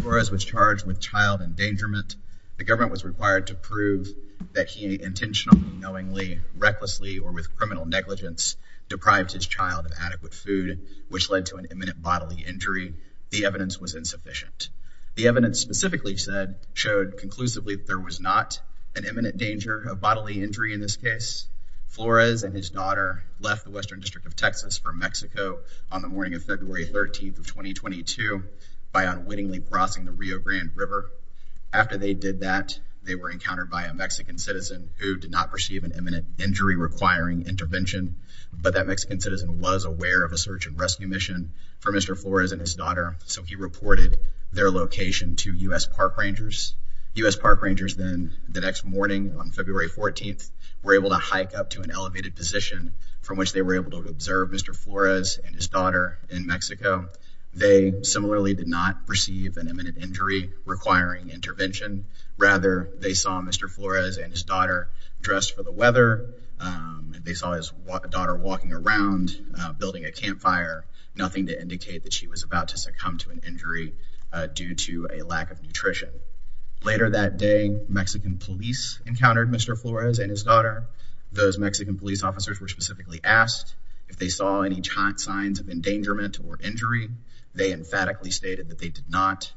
Flores was charged with child endangerment. The government was required to prove that he intentionally, knowingly, recklessly, or with criminal negligence, deprived his child of adequate food, which led to an imminent bodily injury. The evidence was insufficient. The evidence specifically said, showed conclusively there was not an imminent danger of bodily injury in this case. Flores and his daughter left the Western District of Texas for Mexico on the morning of February 13th of 2022 by unwittingly crossing the Rio Grande River. After they did that, they were encountered by a Mexican citizen who did not perceive an imminent injury requiring intervention, but that Mexican citizen was aware of a search and rescue mission for Mr. Flores and his daughter, so he reported their location to U.S. park rangers. U.S. park rangers then, the next morning on February 14th, were able to hike up to an Mexico. They similarly did not perceive an imminent injury requiring intervention. Rather, they saw Mr. Flores and his daughter dressed for the weather. They saw his daughter walking around building a campfire, nothing to indicate that she was about to succumb to an injury due to a lack of nutrition. Later that day, Mexican police encountered Mr. Flores and his daughter. Those Mexican police officers were specifically asked if they saw any signs of endangerment or injury. They emphatically stated that they did not.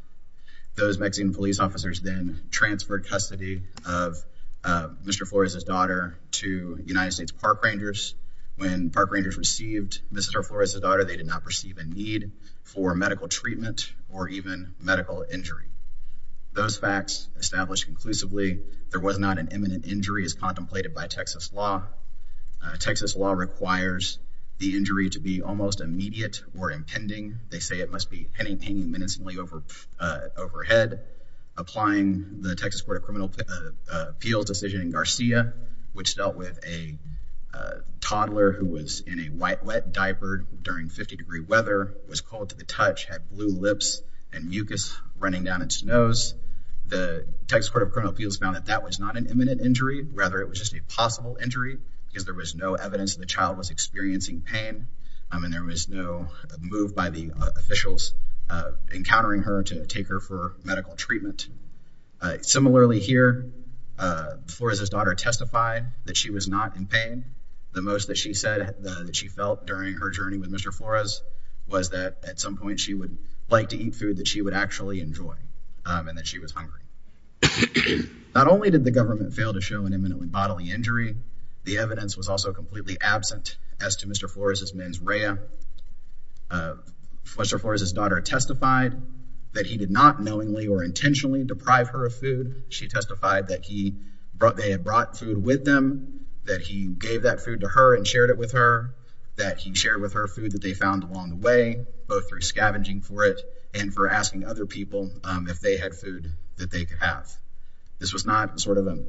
Those Mexican police officers then transferred custody of Mr. Flores and his daughter to United States park rangers. When park rangers received Mrs. Flores and his daughter, they did not perceive a need for medical treatment or even medical injury. Those facts established conclusively, there was not an imminent injury as contemplated by Texas law. Texas law requires the injury to be almost immediate or impending. They say it must be any pain and menacingly overhead. Applying the Texas Court of Criminal Appeals decision in Garcia, which dealt with a toddler who was in a white wet diaper during 50 degree weather, was cold to the touch, had blue lips and mucus running down its nose. The Texas Court of Criminal There was no evidence that the child was experiencing pain and there was no move by the officials encountering her to take her for medical treatment. Similarly here, Flores' daughter testified that she was not in pain. The most that she said that she felt during her journey with Mr. Flores was that at some point she would like to eat food that she would actually enjoy and that she was hungry. Not only did the government fail to show an imminent bodily injury, the evidence was also completely absent as to Mr. Flores' mens rea. Mr. Flores' daughter testified that he did not knowingly or intentionally deprive her of food. She testified that they had brought food with them, that he gave that food to her and shared it with her, that he shared with her food that they found along the way, both through scavenging for it and for asking other people if they had food that they could have. This was not sort of an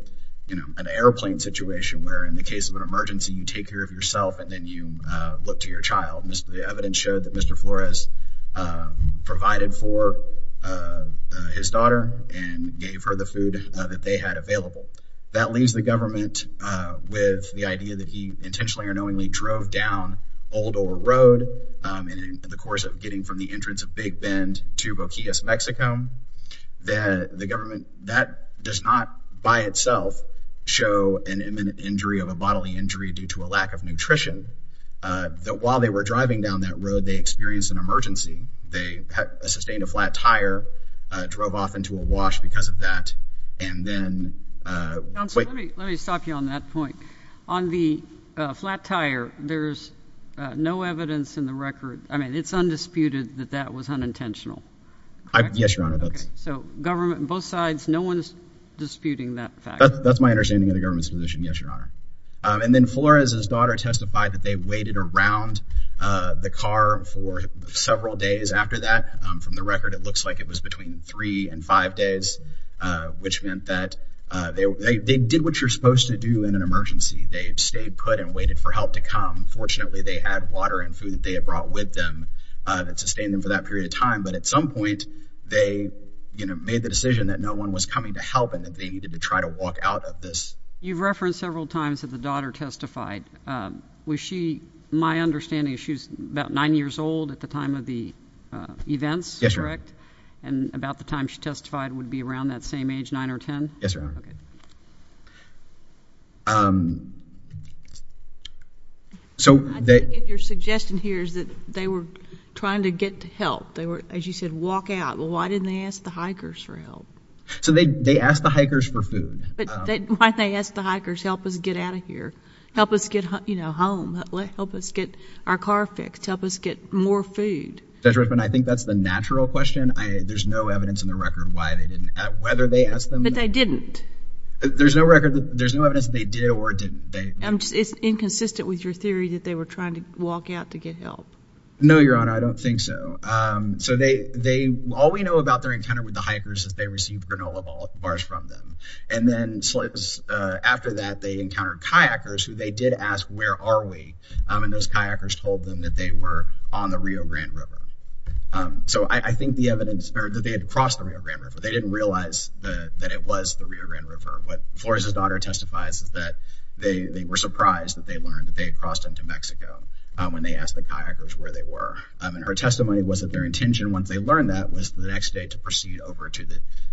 airplane situation where in the case of an emergency you take care of yourself and then you look to your child. The evidence showed that Mr. Flores provided for his daughter and gave her the food that they had available. That leaves the government with the idea that he intentionally or knowingly drove down Old Ore Road in the course of getting from the entrance of Big Bend to Boquillas, Mexico. The government, that does not by itself show an imminent injury of a bodily injury due to a lack of nutrition. That while they were driving down that road, they experienced an emergency. They sustained a flat tire, drove off into a wash because of that, and then... Counsel, let me stop you on that point. On the flat tire, there's no evidence in the record, I mean, it's undisputed that that was unintentional. Yes, Your Honor. So government, both sides, no one's disputing that fact. That's my understanding of the government's position, yes, Your Honor. And then Flores' daughter testified that they waited around the car for several days after that. From the record, it looks like it was between three and five days, which meant that they did what you're supposed to do in an emergency. They stayed put and waited for help to come. Fortunately, they had water and food that they had brought with them that sustained them for that period of time. But at some point, they made the decision that no one was coming to help and that they needed to try to walk out of this. You've referenced several times that the daughter testified. Was she, my understanding, she was about nine years old at the time of the events, correct? Yes, Your Honor. And about the time she testified would be around that same age, nine or ten? Yes, Your Honor. I think your suggestion here is that they were trying to get help. They were, as you said, walk out. Well, why didn't they ask the hikers for help? So they asked the hikers for food. But why didn't they ask the hikers, help us get out of here, help us get home, help us get our car fixed, help us get more food? Judge Richmond, I think that's the natural question. There's no evidence in the record why they didn't ask, whether they asked them. But they didn't? There's no record, there's no evidence they did or didn't. I'm just, it's inconsistent with your theory that they were trying to walk out to get help. No, Your Honor, I don't think so. So they, they, all we know about their encounter with the hikers is they received granola bars from them. And then, so it was after that they encountered kayakers who they did ask, where are we? And those kayakers told them that they were on the Rio Grande River. So I think the evidence that they had crossed the Rio Grande River, they didn't realize that it was the Rio Grande River. What Flores' daughter testifies is that they were surprised that they learned that they had crossed into Mexico when they asked the kayakers where they were. And her testimony was that their intention, once they learned that, was the next day to proceed over to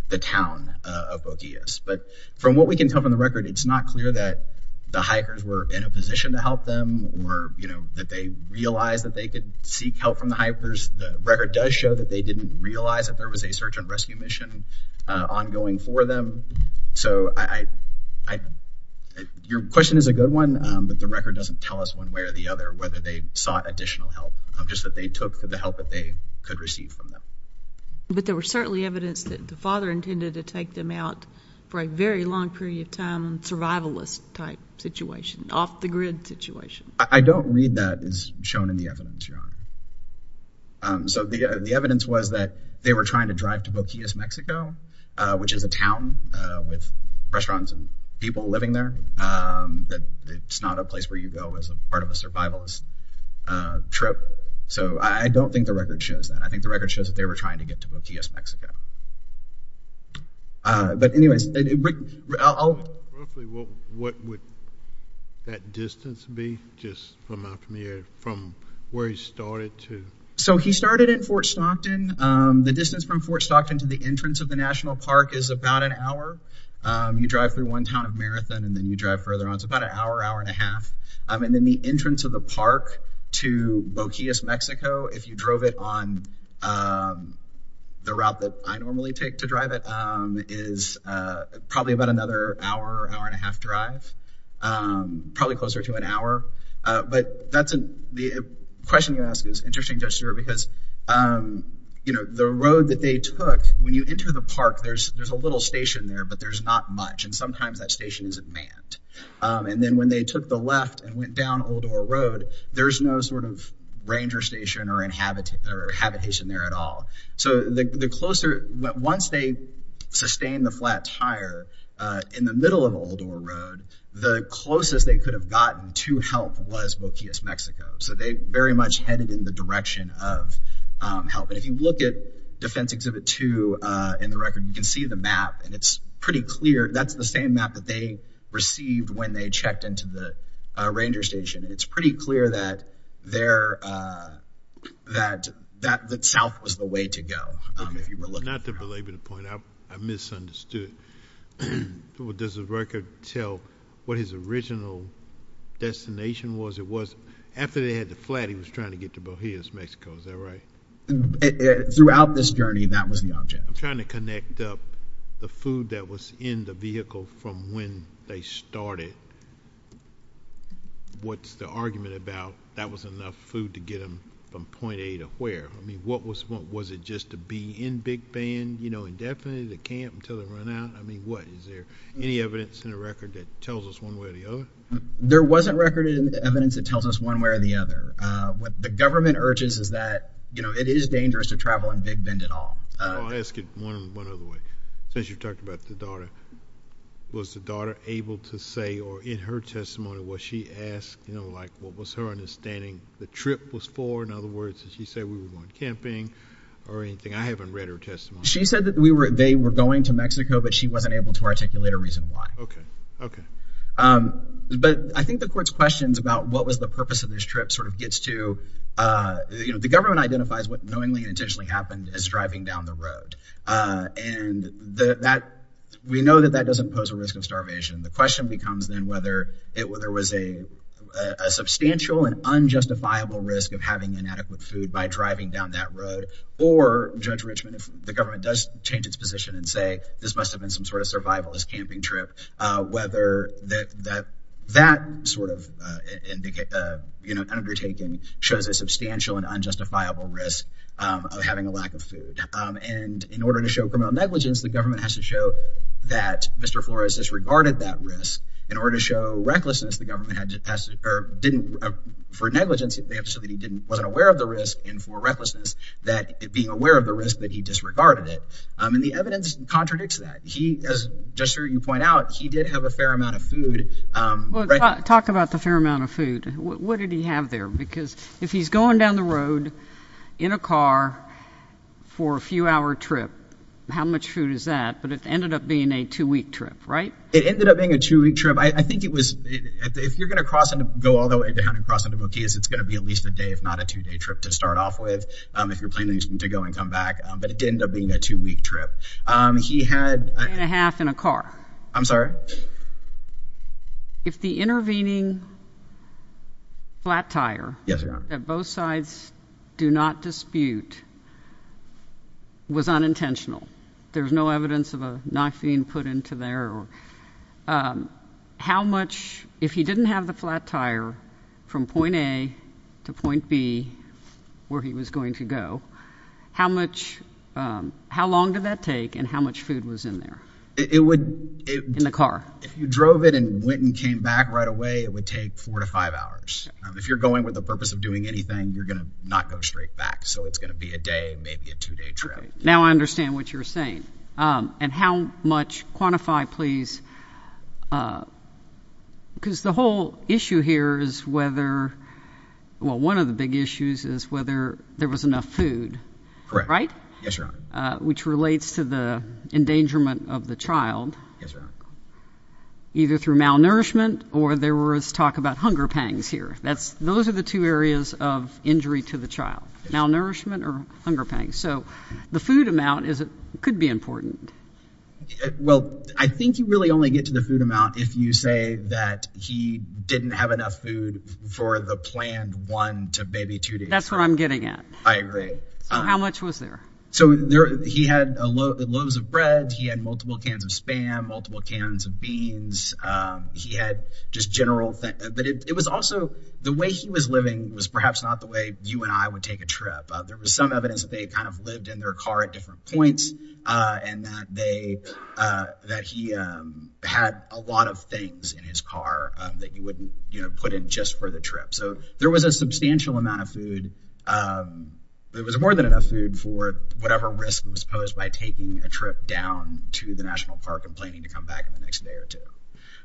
the town of Boquillas. But from what we can tell from the record, it's not clear that the hikers were in a position to help them or, you know, that they realized that they could seek help from the hikers. The record does show that they didn't realize that there was a search and rescue mission ongoing for them. So I, I, I, your question is a good one, but the record doesn't tell us one way or the other whether they sought additional help, just that they took the help that they could receive from them. But there were certainly evidence that the father intended to take them out for a very long period of time, survivalist type situation, off the grid situation. I don't read that as shown in the evidence, your honor. So the evidence was that they were trying to drive to Boquillas, Mexico, which is a town with restaurants and people living there, that it's not a place where you go as a part of a survivalist trip. So I don't think the record shows that. I think the record shows that they were trying to get to Boquillas, Mexico. But anyways, I'll. What would that distance be just from out from here, from where he started to? So he started in Fort Stockton. The distance from Fort Stockton to the entrance of the National Park is about an hour. You drive through one town of Marathon and then you drive further on. It's about an hour, hour and a half. And then the entrance of the park to Boquillas, Mexico, if you drove it on the route that I normally take to drive it, is probably about another hour, hour and a half drive, probably closer to an hour. But the question you ask is interesting, Judge Stewart, because the road that they took, when you enter the park, there's a little station there, but there's not much. And sometimes that station isn't manned. And then when they took the habitation there at all. So the closer, once they sustained the flat tire in the middle of Oldor Road, the closest they could have gotten to help was Boquillas, Mexico. So they very much headed in the direction of help. And if you look at Defense Exhibit 2 in the record, you can see the map. And it's pretty clear. That's the same map that they received when they checked into the station. It's pretty clear that south was the way to go. Not to belabor the point, I misunderstood. Does the record tell what his original destination was? It was after they had the flat, he was trying to get to Boquillas, Mexico, is that right? Throughout this journey, that was the object. I'm trying to connect up the food that was in the vehicle from when they started. What's the argument about that was enough food to get them from point A to where? I mean, what was it just to be in Big Bend, you know, indefinitely to camp until they run out? I mean, what, is there any evidence in the record that tells us one way or the other? There wasn't record in the evidence that tells us one way or the other. What the government urges is that, you know, it is dangerous to travel in Big Bend at all. I'll ask it one other way. Since you've talked about the daughter, was the daughter able to say, or in her testimony, was she asked, you know, like, what was her understanding the trip was for? In other words, did she say we were going camping or anything? I haven't read her testimony. She said that they were going to Mexico, but she wasn't able to articulate a reason why. Okay, okay. But I think the court's questions about what was the purpose of this trip sort of gets to, you know, the government identifies what knowingly and intentionally happened as driving down the that doesn't pose a risk of starvation. The question becomes then whether there was a substantial and unjustifiable risk of having inadequate food by driving down that road, or Judge Richmond, if the government does change its position and say this must have been some sort of survivalist camping trip, whether that sort of undertaking shows a substantial and unjustifiable risk of having a lack of food. And in order to show criminal negligence, the government has to show that Mr. Flores disregarded that risk. In order to show recklessness, the government had to pass, or didn't, for negligence, they have to show that he didn't, wasn't aware of the risk, and for recklessness, that being aware of the risk, that he disregarded it. And the evidence contradicts that. He, as Judge Stewart, you point out, he did have a fair amount of food. Well, talk about the fair amount of food. What did he have there? Because if he's going down the road in a car for a few hour trip, how much food is that? But it ended up being a two-week trip, right? It ended up being a two-week trip. I think it was, if you're going to cross into, go all the way down and cross into Boquillas, it's going to be at least a day, if not a two-day trip, to start off with, if you're planning to go and come back. But it did end up being a two-week trip. He had... A day and a half in a car. I'm sorry? If the intervening flat tire... Yes, Your Honor. ...that both sides do not dispute was unintentional. There's no evidence of a knife being put into there. How much, if he didn't have the flat tire from point A to point B, where he was going to go, how much, how long did that take and how much food was in there? It would... In the car? If you drove it and went and came back right away, it would take four to five hours. If you're going with the purpose of doing anything, you're going to not go straight back. So it's going to be a day, maybe a two-day trip. Now I understand what you're saying. And how much, quantify please, because the whole issue here is whether, well, one of the big issues is whether there was enough food. Correct. Right? Yes, Your Honor. Which relates to the endangerment of the child. Yes, Your Honor. Either through malnourishment or there was talk about hunger pangs here. Those are the two areas of injury to the child, malnourishment or hunger pangs. So the food amount could be important. Well, I think you really only get to the food amount if you say that he didn't have enough food for the planned one to maybe two days. That's what I'm getting at. I agree. So how much was there? So he had loaves of bread. He had multiple cans of Spam, multiple cans of beans. He had just general things. But it was also the way he was living was perhaps not the way you and I would take a trip. There was some evidence that they kind of lived in their car at different points and that he had a lot of things in his car that you wouldn't put in just for the trip. So there was a substantial amount of food. There was more than enough food for whatever risk was posed by taking a trip down to the National Park and planning to come back in the next day or two.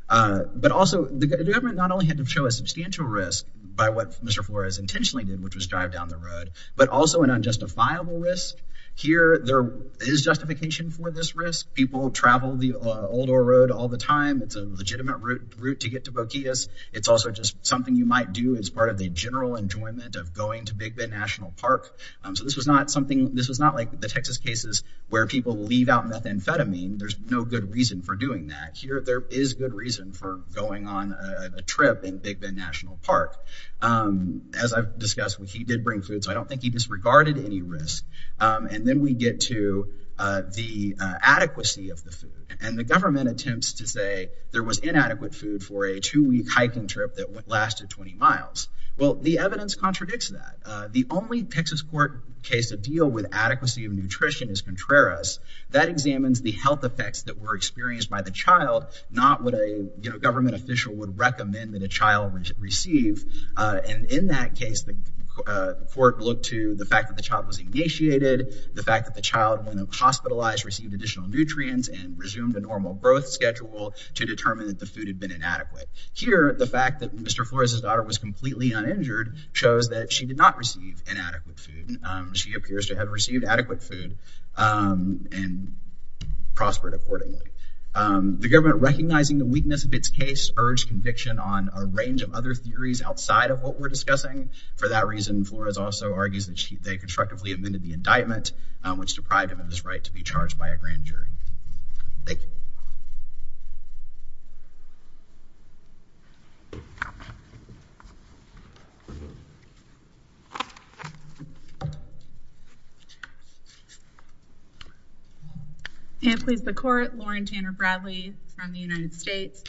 But also, the government not only had to show a substantial risk by what Mr. Flores intentionally did, which was drive down the road, but also an unjustifiable risk. Here, there is justification for this risk. People travel the old road all the time. It's a legitimate route to get to Boquillas. It's also just something you might do as part of the general enjoyment of going to Big Bend National Park. So this was not like the Texas cases where people leave out methamphetamine. There's no good reason for doing that. Here, there is good reason for going on a trip in Big Bend National Park. As I've discussed, he did bring food. So I don't think he disregarded any risk. And then we get to the adequacy of the food. And the government attempts to say there was hiking trip that lasted 20 miles. Well, the evidence contradicts that. The only Texas court case to deal with adequacy of nutrition is Contreras. That examines the health effects that were experienced by the child, not what a government official would recommend that a child receive. And in that case, the court looked to the fact that the child was initiated, the fact that the child went hospitalized, received additional nutrients, and resumed a normal schedule to determine that the food had been inadequate. Here, the fact that Mr. Flores' daughter was completely uninjured shows that she did not receive inadequate food. She appears to have received adequate food and prospered accordingly. The government, recognizing the weakness of its case, urged conviction on a range of other theories outside of what we're discussing. For that reason, Flores also argues that they constructively amended the indictment, which deprived him of his right to be charged by a grand jury. Thank you. And please, the court, Lauren Tanner Bradley from the United States.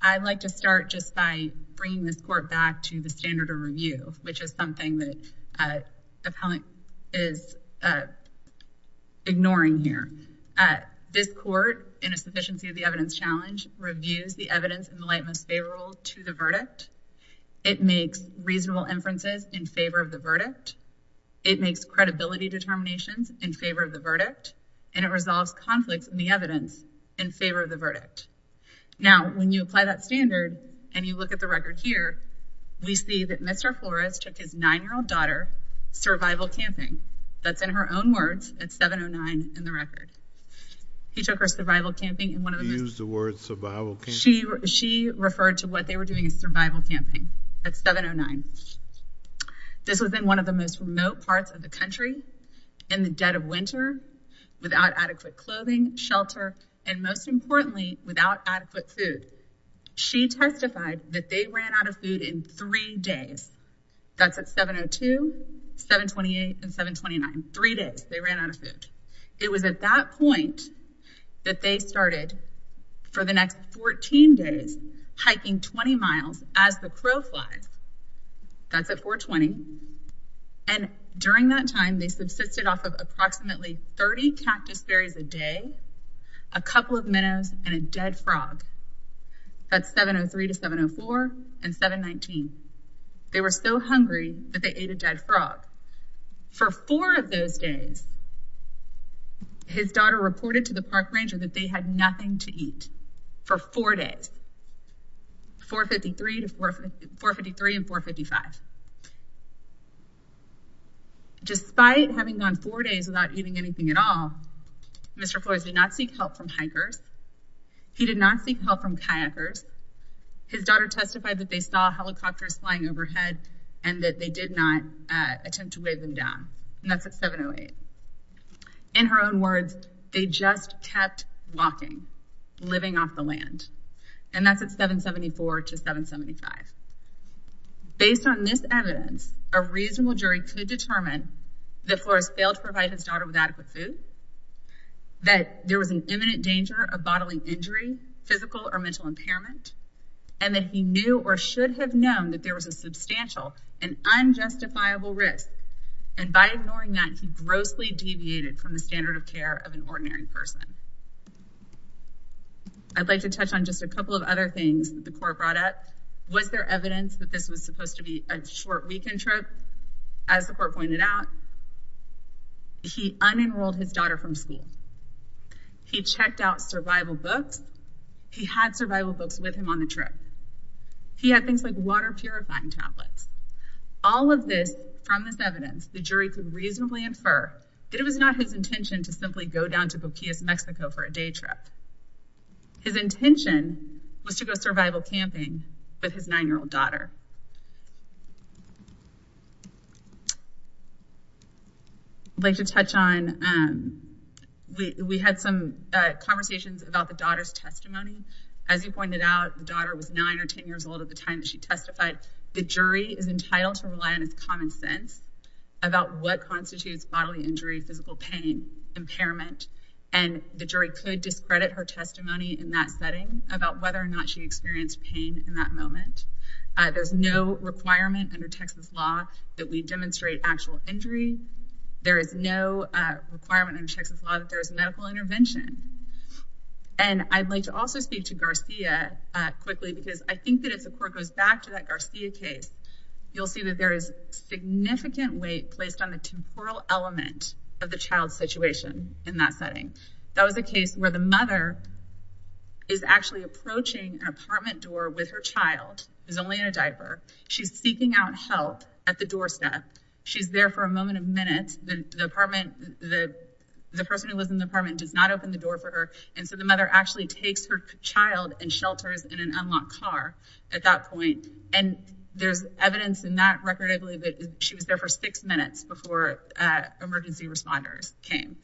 I'd like to start just by bringing this court back to the standard of review, which is something that appellant is ignoring here. This court, in a sufficiency of the evidence challenge, reviews the evidence in the light most favorable to the verdict. It makes reasonable inferences in favor of the verdict. It makes credibility determinations in favor of the verdict. And it resolves conflicts in the evidence in favor of the verdict. Now, when you apply that standard and you look at the record here, we see that Mr. Flores took his nine-year-old daughter survival camping. That's in her own words, at 7-09 in the record. He took her survival camping in one of the... He used the word survival camping. She referred to what they were doing as survival camping at 7-09. This was in one of the most remote parts of the country, in the dead of winter, without adequate clothing, shelter, and most importantly, without adequate food. She testified that they ran out of food in three days. That's at 7-02, 7-28, and 7-29. Three days they ran out of food. It was at that point that they started, for the next 14 days, hiking 20 miles as the crow flies. That's at 4-20. And during that time, they subsisted off of approximately 30 cactus berries a day, a couple of minnows, and a dead frog. That's 7-03 to 7-04 and 7-19. They were so hungry that they ate a dead frog. For four of those days, his daughter reported to the park ranger that they had nothing to eat for four days, 4-53 and 4-55. Despite having gone four days without eating anything at all, Mr. Flores did not seek help from hikers. He did not seek help from kayakers. His daughter testified that they saw helicopters flying overhead and that they did not attempt to wave them down. And that's at 7-08. In her own words, they just kept walking, living off the land. And that's at 7-74 to 7-75. Based on this evidence, a reasonable jury could determine that Flores failed to provide his daughter with adequate food, that there was an imminent danger of bodily injury, physical or mental impairment, and that he knew or should have known that there was a substantial and unjustifiable risk. And by ignoring that, he grossly deviated from the standard of care of an ordinary person. I'd like to touch on just a couple of other things that the court brought up. Was there evidence that this was supposed to be a short weekend trip? As the court pointed out, he unenrolled his daughter from school. He checked out survival books. He had survival books with him on the trip. He had things like water purifying tablets. All of this, from this evidence, the jury could reasonably infer that it was not his intention to simply go down to Boquillas, Mexico for a day trip. His intention was to go survival camping with his nine-year-old daughter. I'd like to touch on, we had some conversations about the daughter's testimony. As you pointed out, the daughter was nine or 10 years old at the time that she testified. The jury is entitled to rely on its common sense about what constitutes bodily injury, physical pain, impairment. And the jury could discredit her testimony in that setting about whether or not she experienced pain in that moment. There's no requirement under Texas law that we demonstrate actual injury. There is no requirement under Texas law that there is medical intervention. And I'd like to also speak to Garcia quickly because I think that if the court goes back to that Garcia case, you'll see that there is significant weight placed on the temporal element of the child's situation in that setting. That was a case where the mother is actually approaching an apartment door with her child, is only in a diaper. She's seeking out help at the doorstep. She's there for a moment of minutes. The person who was in the apartment does not open the door for her. And so the mother actually takes her child and shelters in an unlocked car at that point. And there's evidence in that record, I believe, that she was there for six minutes before emergency responders came.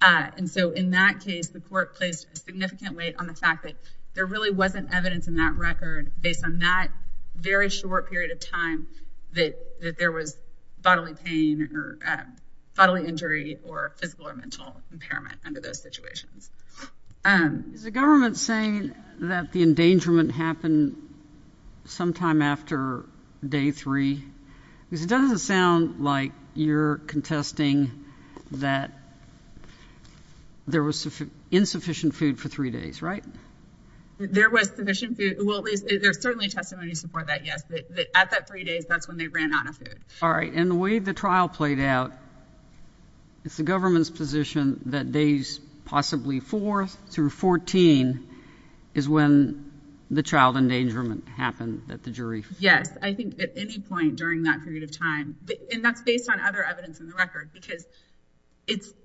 And so in that case, the court placed a significant weight on the fact that there really wasn't evidence in that record based on that very short period of time that there was bodily pain or bodily injury or physical or mental impairment under those situations. Is the government saying that the endangerment happened sometime after day three? Because it doesn't sound like you're contesting that there was insufficient food for three days, right? There was sufficient food. Well, there's certainly testimony support that, yes, that at that three days, that's when they ran out of food. All right. And the way the trial played out, it's the government's position that days possibly four through 14 is when the child endangerment happened at the jury. Yes, I think at any point during that period of time. And that's based on other evidence in the record, because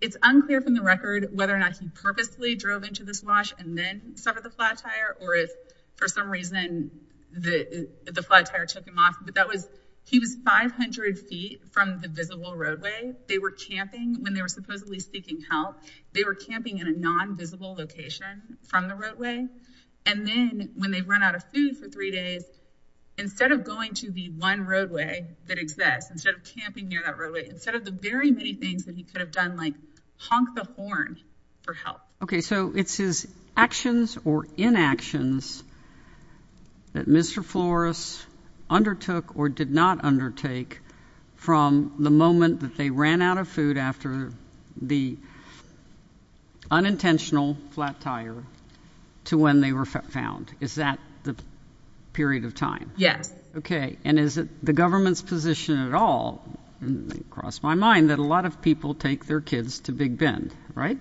it's unclear from the record whether or not he purposely drove into this wash and then suffered the flat tire or if for some reason the flat tire took him off. But that was he was 500 feet from the visible roadway. They were camping when they were supposedly seeking help. They were camping in a non-visible location from the roadway. And then when they run out of food for three days, instead of going to the one roadway that exists, instead of camping near that roadway, instead of the very many things that he could have done, like honk the horn for help. OK, so it's his actions or inactions that Mr. Flores undertook or did not undertake from the moment that they ran out of food after the unintentional flat tire. To when they were found. Is that the period of time? Yes. OK. And is it the government's position at all? It crossed my mind that a lot of people take their kids to Big Bend, right?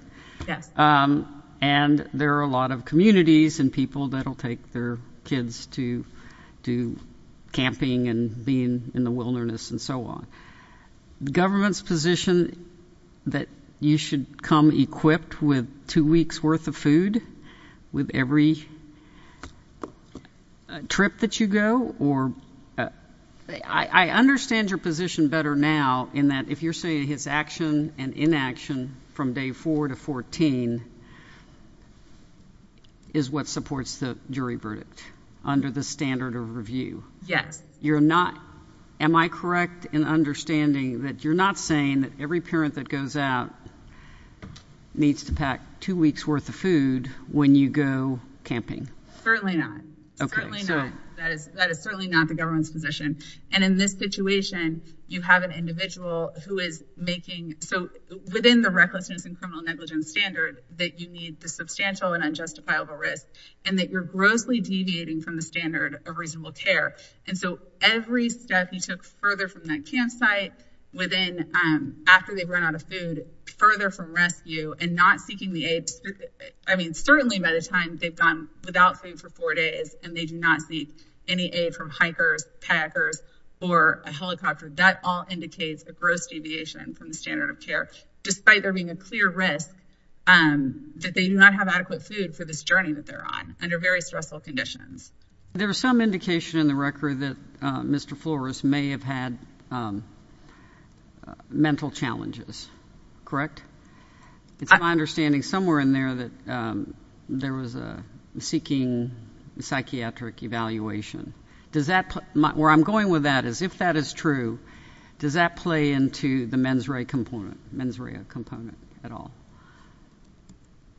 Yes. And there are a lot of communities and people that will take their kids to do camping and being in the wilderness and so on. The government's position that you should come equipped with two weeks worth of food with every trip that you go or I understand your position better now in that if you're saying his action and inaction from day four to 14 is what supports the jury verdict under the standard of review. Yes. You're not. Am I correct in understanding that you're not saying that every parent that goes out needs to pack two weeks worth of food when you go camping? Certainly not. OK, so that is certainly not the government's position. And in this situation, you have an individual who is making so within the recklessness and criminal negligence standard that you need the substantial and unjustifiable risk and that you're grossly deviating from the standard of reasonable care. And so every step you took further from that campsite within after they've run out of food, further from rescue and not seeking the aid. I mean, certainly by the time they've gone without food for four days and they do not see any aid from hikers, packers or a helicopter, that all indicates a gross deviation from the standard of care, despite there being a clear risk that they do not have adequate food for this journey that they're on under very stressful conditions. There was some indication in the record that Mr. Flores may have had mental challenges, correct? It's my understanding somewhere in there that there was a seeking psychiatric evaluation. Does that where I'm going with that is if that is true, does that play into the mens rea component, mens rea component at all?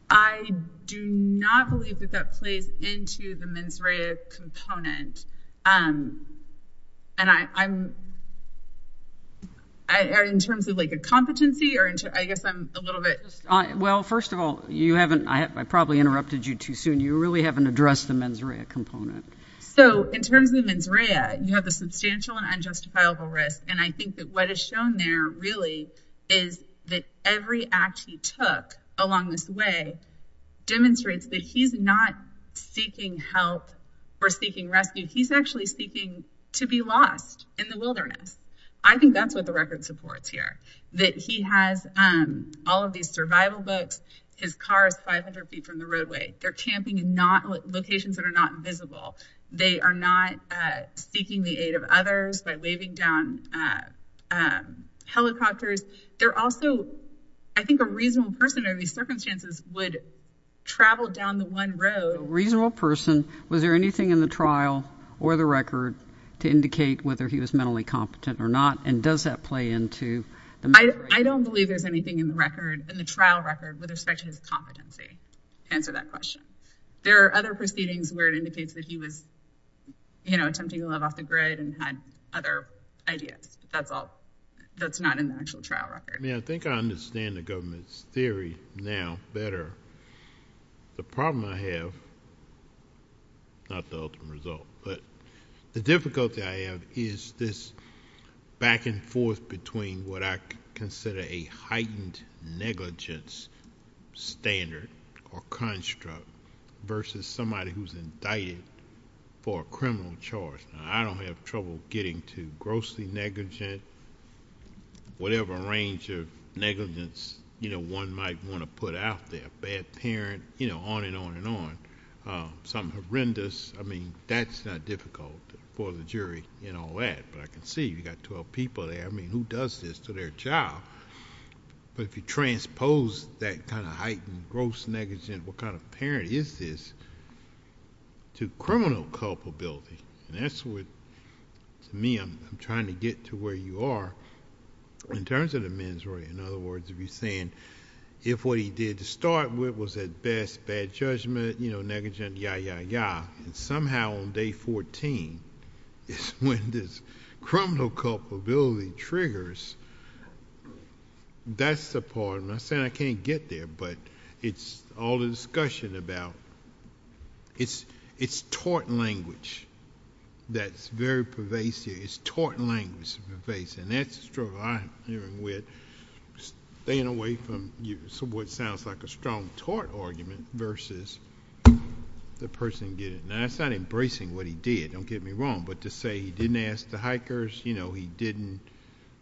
I do not believe that that plays into the mens rea component. And I'm, I, in terms of like a competency or I guess I'm a little bit, well, first of all, you haven't, I probably interrupted you too soon. You really haven't addressed the mens rea component. So in terms of mens rea, you have the substantial and unjustifiable risk. And I think that what is shown there really is that every act he took along this way demonstrates that he's not seeking help or seeking rescue. He's actually seeking to be lost in the wilderness. I think that's what the record supports here, that he has all of these survival books. His car is 500 feet from the roadway. They're camping in locations that are not visible. They are not seeking the aid of others by waving down helicopters. They're also, I think a reasonable person under these circumstances would travel down the one road. A reasonable person. Was there anything in the trial or the record to indicate whether he was mentally competent or not? And does that play into the mens rea? I don't believe there's anything in the record, in the trial record with respect to his competency to answer that question. There are other proceedings where it indicates that he was, you know, attempting to love off the grid and had other ideas. That's all. That's not in the actual trial record. I think I understand the government's theory now better. The problem I have, not the ultimate result, but the difficulty I have is this back and forth between what I consider a heightened negligence standard or construct versus somebody who's indicted for a criminal charge. Now, I don't have trouble getting to grossly negligent, whatever range of negligence, you know, one might want to put out there. Bad parent, you know, on and on and on. Something horrendous. I mean, that's not difficult for the jury and all that. But I can see you got 12 people there. I mean, who does this to their child? But if you transpose that kind of heightened gross negligence, what kind of parent is this, to criminal culpability, and that's what, to me, I'm trying to get to where you are in terms of the mens rea. In other words, if you're saying if what he did to start with was at best bad judgment, you know, negligent, yeah, yeah, yeah, and somehow on day 14 is when this criminal culpability triggers, that's the part. I'm not saying I can't get there, but it's all the discussion about, it's taught language that's very pervasive. It's taught language that's pervasive, and that's the struggle I'm dealing with, staying away from what sounds like a strong taught argument versus the person getting it. Now, that's not embracing what he did, don't get me wrong, but to say he didn't ask the hikers, you know, he didn't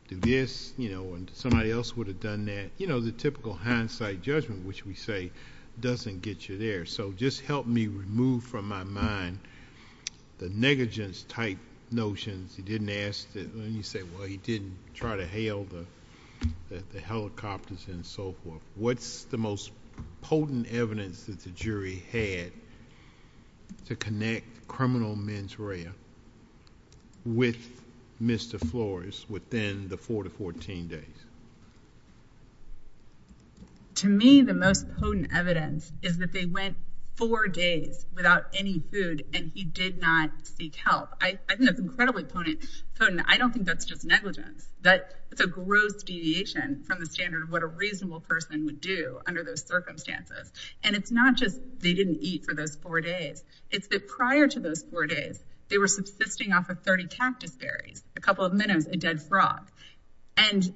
do this, you know, and somebody else would have done that, you know, the typical hindsight judgment, which we say doesn't get you there, so just help me remove from my mind the negligence type notions. He didn't ask, and you say, well, he didn't try to hail the helicopters and so forth. What's the most potent evidence that the jury had to connect criminal mens rea with Mr. Flores within the four to 14 days? To me, the most potent evidence is that they went four days without any food, and he did not seek help. I think that's incredibly potent. I don't think that's just negligence. That's a gross deviation from the standard of what a reasonable person would do under those circumstances, and it's not just they didn't eat for those four days. It's that prior to those four days, they were subsisting off of 30 cactus berries, a couple of minnows, a dead frog, and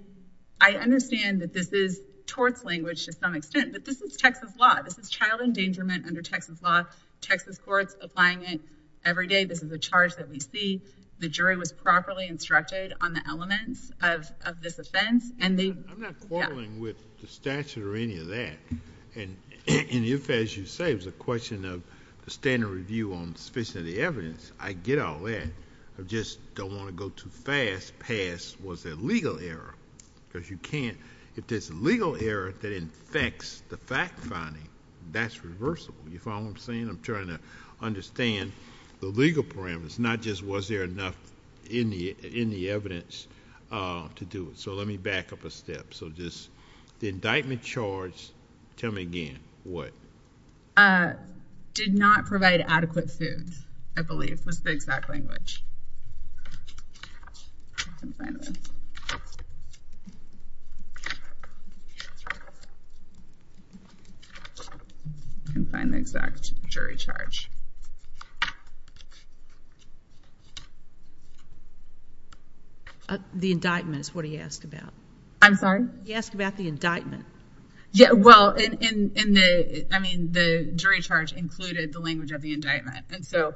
I understand that this is torts language to some extent, but this is Texas law. This is child endangerment under Texas law. Texas courts applying it every day. This is a charge that we see. The jury was properly instructed on the elements of this offense, and they... I'm not quarreling with the statute or any of that, and if, as you say, it was a question of the standard review on sufficient evidence, I get all that. I just don't want to go too fast past was there legal error, because you can't... If there's legal error that infects the fact finding, that's reversible. You follow what I'm saying? I'm trying to understand the legal parameters, not just was there enough in the evidence to do it, so let me back up a step. So just the indictment charge, tell me again what? Did not provide adequate food, I believe, was the exact language. I can find the exact jury charge. The indictment is what he asked about. I'm sorry? He asked about the indictment. Yeah, well, in the... I mean, the jury charge included the language of the indictment, and so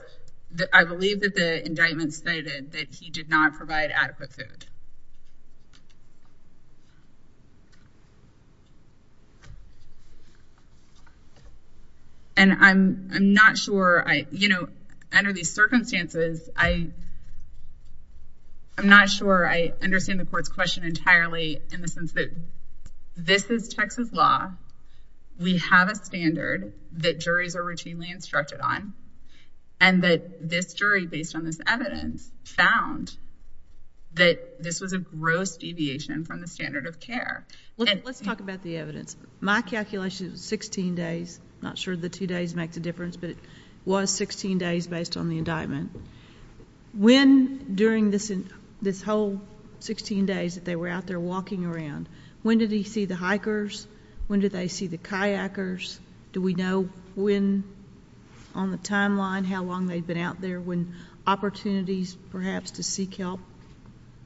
I believe that the indictment stated that he did not provide adequate food. And I'm not sure... Under these circumstances, I'm not sure I understand the court's question entirely in the sense that this is Texas law. We have a standard that juries are routinely instructed on, and that this jury, based on this evidence, found that this was a gross deviation from the standard of care. Let's talk about the evidence. My calculation is 16 days. Not sure the two days makes a difference, but it was 16 days based on the indictment. When during this whole 16 days that they were out there walking around, when did he see the hikers? When did they see the kayakers? Do we know when on the timeline, how long they'd been out there, when opportunities perhaps to seek help?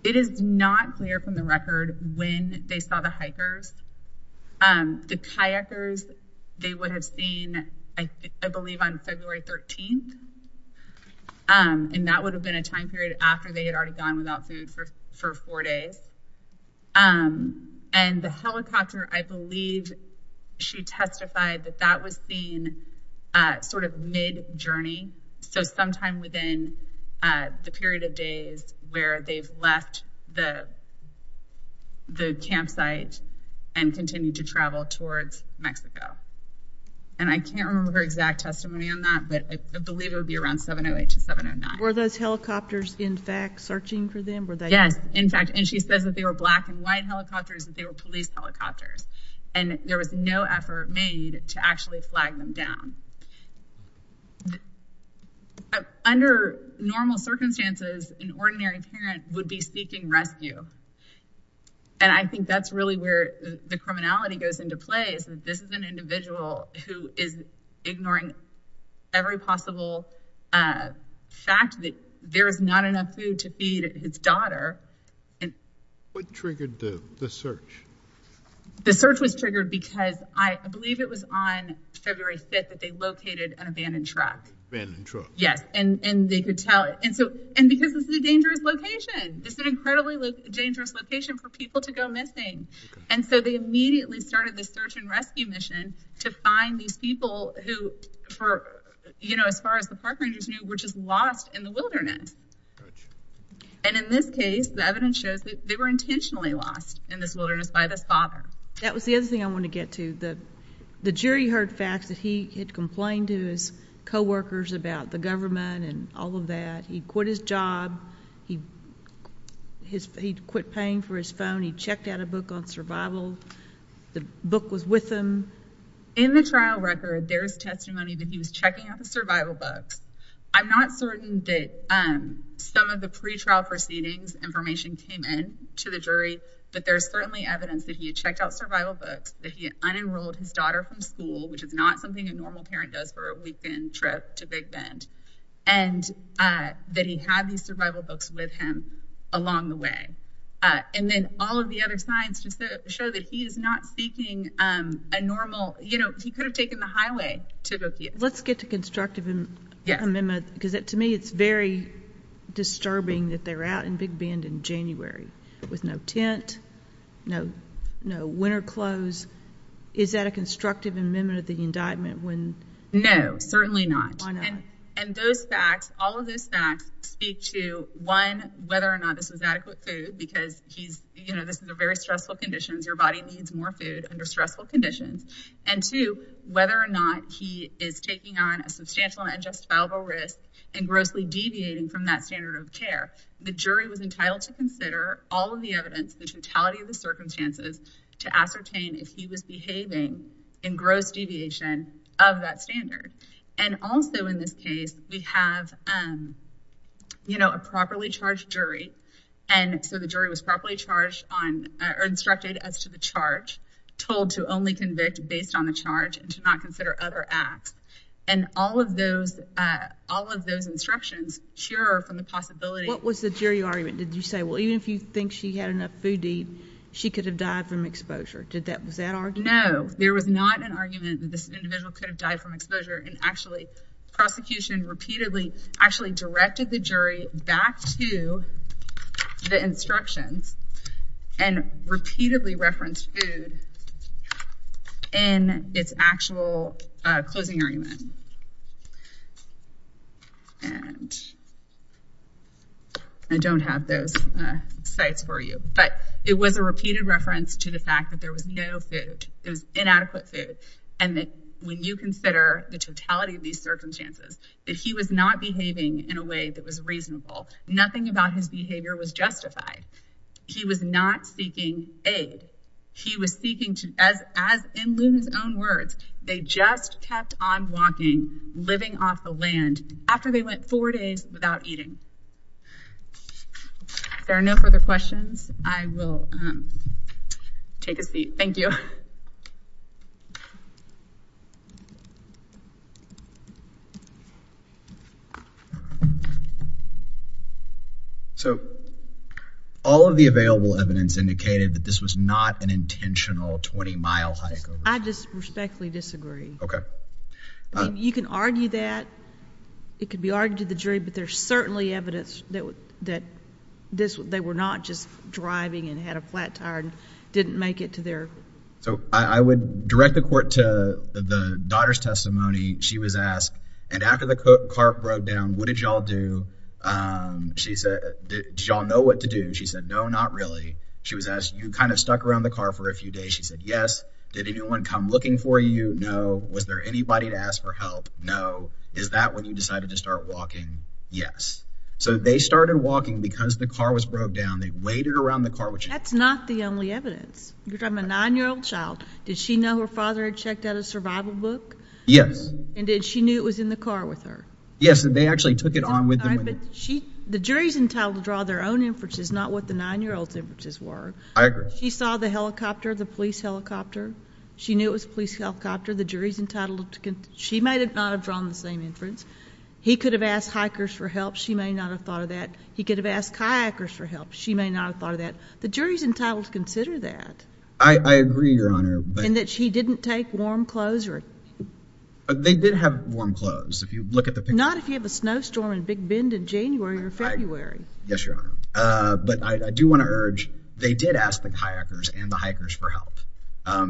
It is not clear from the record when they saw the hikers. The kayakers, they would have seen, I believe, on February 13th, and that would have been a time period after they had already gone without food for four days. And the helicopter, I believe she testified that that was seen sort of mid-journey, so sometime within the period of days where they've left the campsite and continued to travel towards Mexico. And I can't remember her exact testimony on that, but I believe it would be around 708 to 709. Were those helicopters in fact searching for them? Yes, in fact, and she says that they were black and white helicopters, that they were police helicopters. And there was no effort made to actually flag them down. Under normal circumstances, an ordinary parent would be seeking rescue. And I think that's really where the criminality goes into play, is that this is an individual who is ignoring every possible fact that there is not enough food to feed his daughter. What triggered the search? The search was triggered because I believe it was on February 5th that they located an abandoned truck. Abandoned truck. Yes, and they could tell. And because this is a dangerous location, this is an incredibly dangerous location for people to go missing. And so they immediately started this search and rescue mission to find these people who, as far as the park rangers knew, were just lost in the wilderness. And in this case, the evidence shows that they were intentionally lost in this wilderness by this father. That was the other thing I wanted to get to. The jury heard facts that he had complained to his co-workers about the government and all of that. He quit his job. He quit paying for his phone. He checked out a book on survival books. The book was with him. In the trial record, there's testimony that he was checking out the survival books. I'm not certain that some of the pretrial proceedings information came in to the jury, but there's certainly evidence that he had checked out survival books, that he had unenrolled his daughter from school, which is not something a normal parent does for a weekend trip to Big Bend, and that he had these survival books with him along the way. And then all of the other signs show that he is not seeking a normal, you know, he could have taken the highway to go get them. Let's get to constructive amendment, because to me it's very disturbing that they're out in Big Bend in January with no tent, no winter clothes. Is that a constructive amendment of the indictment? No, certainly not. And those facts, all of those facts speak to, one, whether or not this was your body needs more food under stressful conditions, and two, whether or not he is taking on a substantial and unjustifiable risk and grossly deviating from that standard of care. The jury was entitled to consider all of the evidence, the totality of the circumstances, to ascertain if he was behaving in gross deviation of that standard. And also in this case, we have, you know, a properly charged jury, and so the jury was properly charged on, or instructed as to the charge, told to only convict based on the charge and to not consider other acts. And all of those, all of those instructions shear from the possibility. What was the jury argument? Did you say, well, even if you think she had enough food to eat, she could have died from exposure. Did that, was that argument? No, there was not an argument that this individual could have died from exposure, and actually, prosecution repeatedly, actually directed the jury back to the instructions and repeatedly referenced food in its actual closing argument. And I don't have those sites for you, but it was a repeated reference to the fact that there was no food, and that when you consider the totality of these circumstances, that he was not behaving in a way that was reasonable. Nothing about his behavior was justified. He was not seeking aid. He was seeking to, as in Luna's own words, they just kept on walking, living off the land, after they went four days without eating. If there are no further questions, I will take a seat. Thank you. So, all of the available evidence indicated that this was not an intentional 20-mile hike. I just respectfully disagree. Okay. You can argue that, it could be argued to the jury, but there's certainly evidence that this, they were not just driving and had a flat tire and didn't make it to their... So, I would direct the court to the daughter's testimony. She was asked, and after the car broke down, what did y'all do? She said, did y'all know what to do? She said, no, not really. She was asked, you kind of stuck around the car for a few days. She said, yes. Did anyone come looking for you? No. Was there anybody to ask for help? No. Is that when you decided to start walking? Yes. So, they started walking because the car was broke down. They waited around the car... That's not the only evidence. You're talking about a nine-year-old child. Did she know her father had checked out a survival book? Yes. And did she knew it was in the car with her? Yes, and they actually took it on with them. All right, but she, the jury's entitled to draw their own inferences, not what the nine-year-old's inferences were. I agree. She saw the helicopter, the police helicopter. She knew it was a police helicopter. The jury's have drawn the same inference. He could have asked hikers for help. She may not have thought of that. He could have asked kayakers for help. She may not have thought of that. The jury's entitled to consider that. I agree, Your Honor, but... And that she didn't take warm clothes or... They did have warm clothes. If you look at the picture... Not if you have a snowstorm and big bend in January or February. Yes, Your Honor, but I do want to urge, they did ask the kayakers and hikers for help.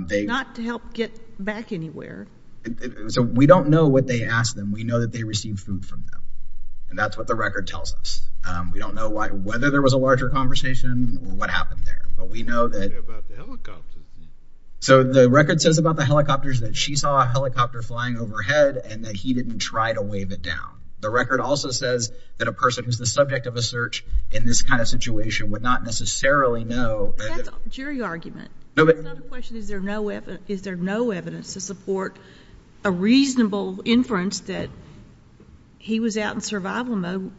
Not to help get back anywhere. So, we don't know what they asked them. We know that they received food from them, and that's what the record tells us. We don't know why, whether there was a larger conversation or what happened there, but we know that... So, the record says about the helicopters that she saw a helicopter flying overhead and that he didn't try to wave it down. The record also says that a person who's the subject of a search in this kind of situation would not necessarily know... That's a jury argument. It's not a question. Is there no evidence to support a reasonable inference that he was out in survival mode?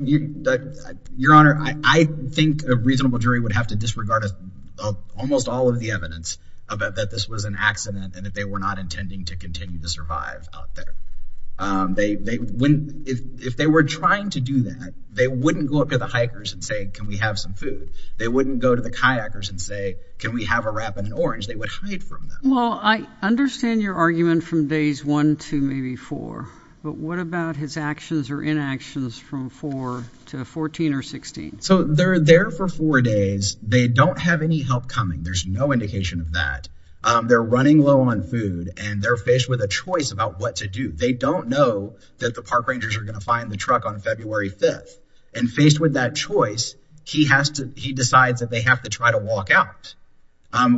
Your Honor, I think a reasonable jury would have to disregard almost all of the evidence about that this was an accident and that they were not intending to continue to survive out there. They wouldn't... If they were trying to do that, they wouldn't go up to the hikers and say, can we have some food? They wouldn't go to the kayakers and say, can we have a wrap in an orange? They would hide from them. Well, I understand your argument from days one to maybe four, but what about his actions or inactions from four to 14 or 16? So, they're there for four days. They don't have any help coming. There's no indication of that. They're running low on food and they're faced with a choice about what to do. They don't know that the park rangers are going to find the truck on February 5th. And faced with that choice, he decides that they have to try to walk out.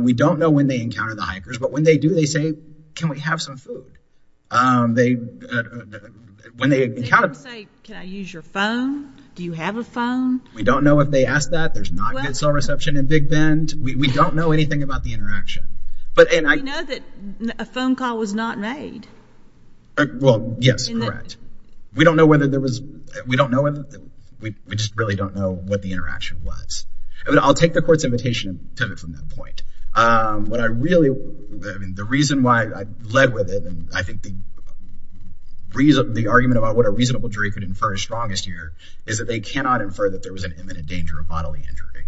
We don't know when they encounter the hikers, but when they do, they say, can we have some food? When they encounter... Did they ever say, can I use your phone? Do you have a phone? We don't know if they asked that. There's not good cell reception in Big Bend. We don't know anything about the interaction. We know that a phone call was not made. Well, yes, correct. We don't know whether there was... We don't know whether... We just really don't know what the interaction was. But I'll take the court's invitation and pivot from that point. What I really... I mean, the reason why I led with it, and I think the argument about what a reasonable jury could infer is strongest here, is that they cannot infer that there was an imminent danger of bodily injury.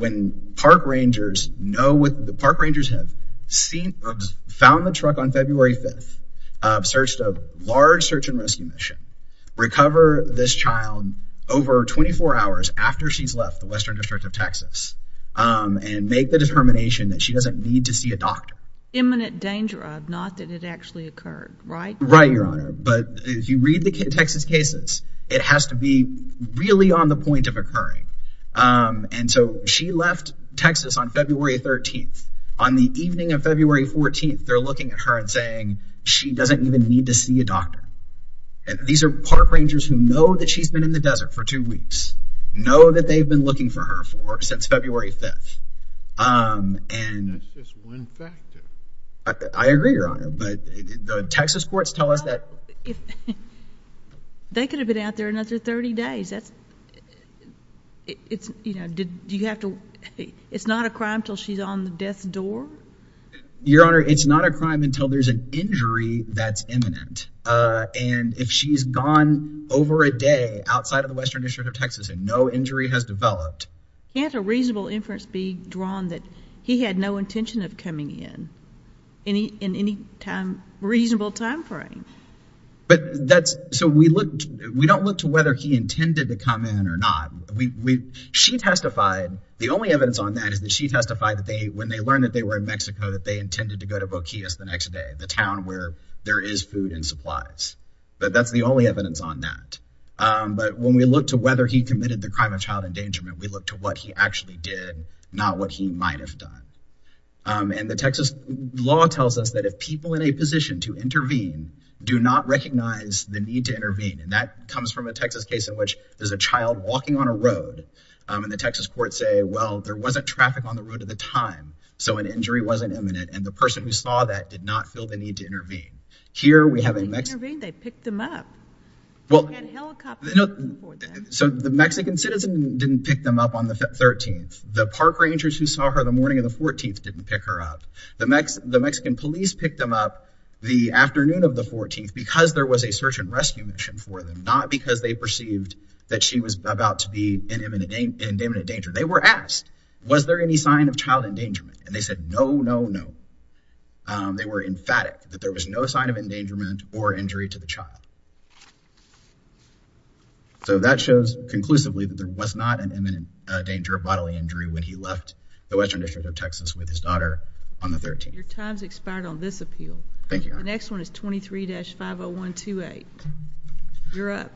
When park rangers know what... The park rangers have seen... Found the truck on February 5th, searched a large search and rescue mission, recover this child over 24 hours after she's left the Western District of Texas, and make the determination that she doesn't need to see a doctor. Imminent danger of... Not that it actually occurred, right? Right, Your Honor. But if you read the Texas cases, it has to be really on the point of occurring. And so she left Texas on February 13th. On the evening of February 14th, they're looking at her and saying she doesn't even need to see a doctor. And these are park rangers who know that she's been in the desert for two weeks, know that they've been looking for her for since February 5th. And... That's just one factor. I agree, Your Honor. But the Texas courts tell us that... They could have been out there another 30 days. That's... It's, you know, did... Do you have to... It's not a crime until she's on the death door? Your Honor, it's not a crime until there's an injury that's imminent. And if she's gone over a day outside of the Western District of Texas and no injury has developed... Can't a reasonable inference be drawn that he had no intention of coming in, in any time... Reasonable time frame? But that's... So we looked... We don't look to whether he intended to come in or not. She testified... The only evidence on that is that she testified that they... When they learned that they were in Mexico, that they intended to go to Boquillas the next day, the town where there is food and supplies. But that's the only evidence on that. But when we look to whether he committed the crime of child endangerment, we look to what he actually did, not what he might have done. And the Texas law tells us that if people in a position to intervene do not recognize the need to intervene, and that comes from a Texas case in which there's a child walking on a road, and the Texas courts say, well, there wasn't traffic on the road at the time, so an injury wasn't imminent. And the person who saw that did not feel the need to intervene. Here we have in Mexico... They picked them up. Well... So the Mexican citizen didn't pick them up on the 13th. The park rangers who saw her the morning of the 14th didn't pick her up. The Mexican police picked them up the afternoon of the 14th because there was a search and rescue mission for them, not because they perceived that she was about to be in imminent danger. They were asked, was there any sign of child endangerment? And they said, no, no, no. They were emphatic that there was no sign of endangerment or injury to the child. So that shows conclusively that there was not an imminent danger of bodily injury when he left the Western District of Texas with his daughter on the 13th. Your time's expired on this appeal. Thank you. The next one is 23-50128. You're up.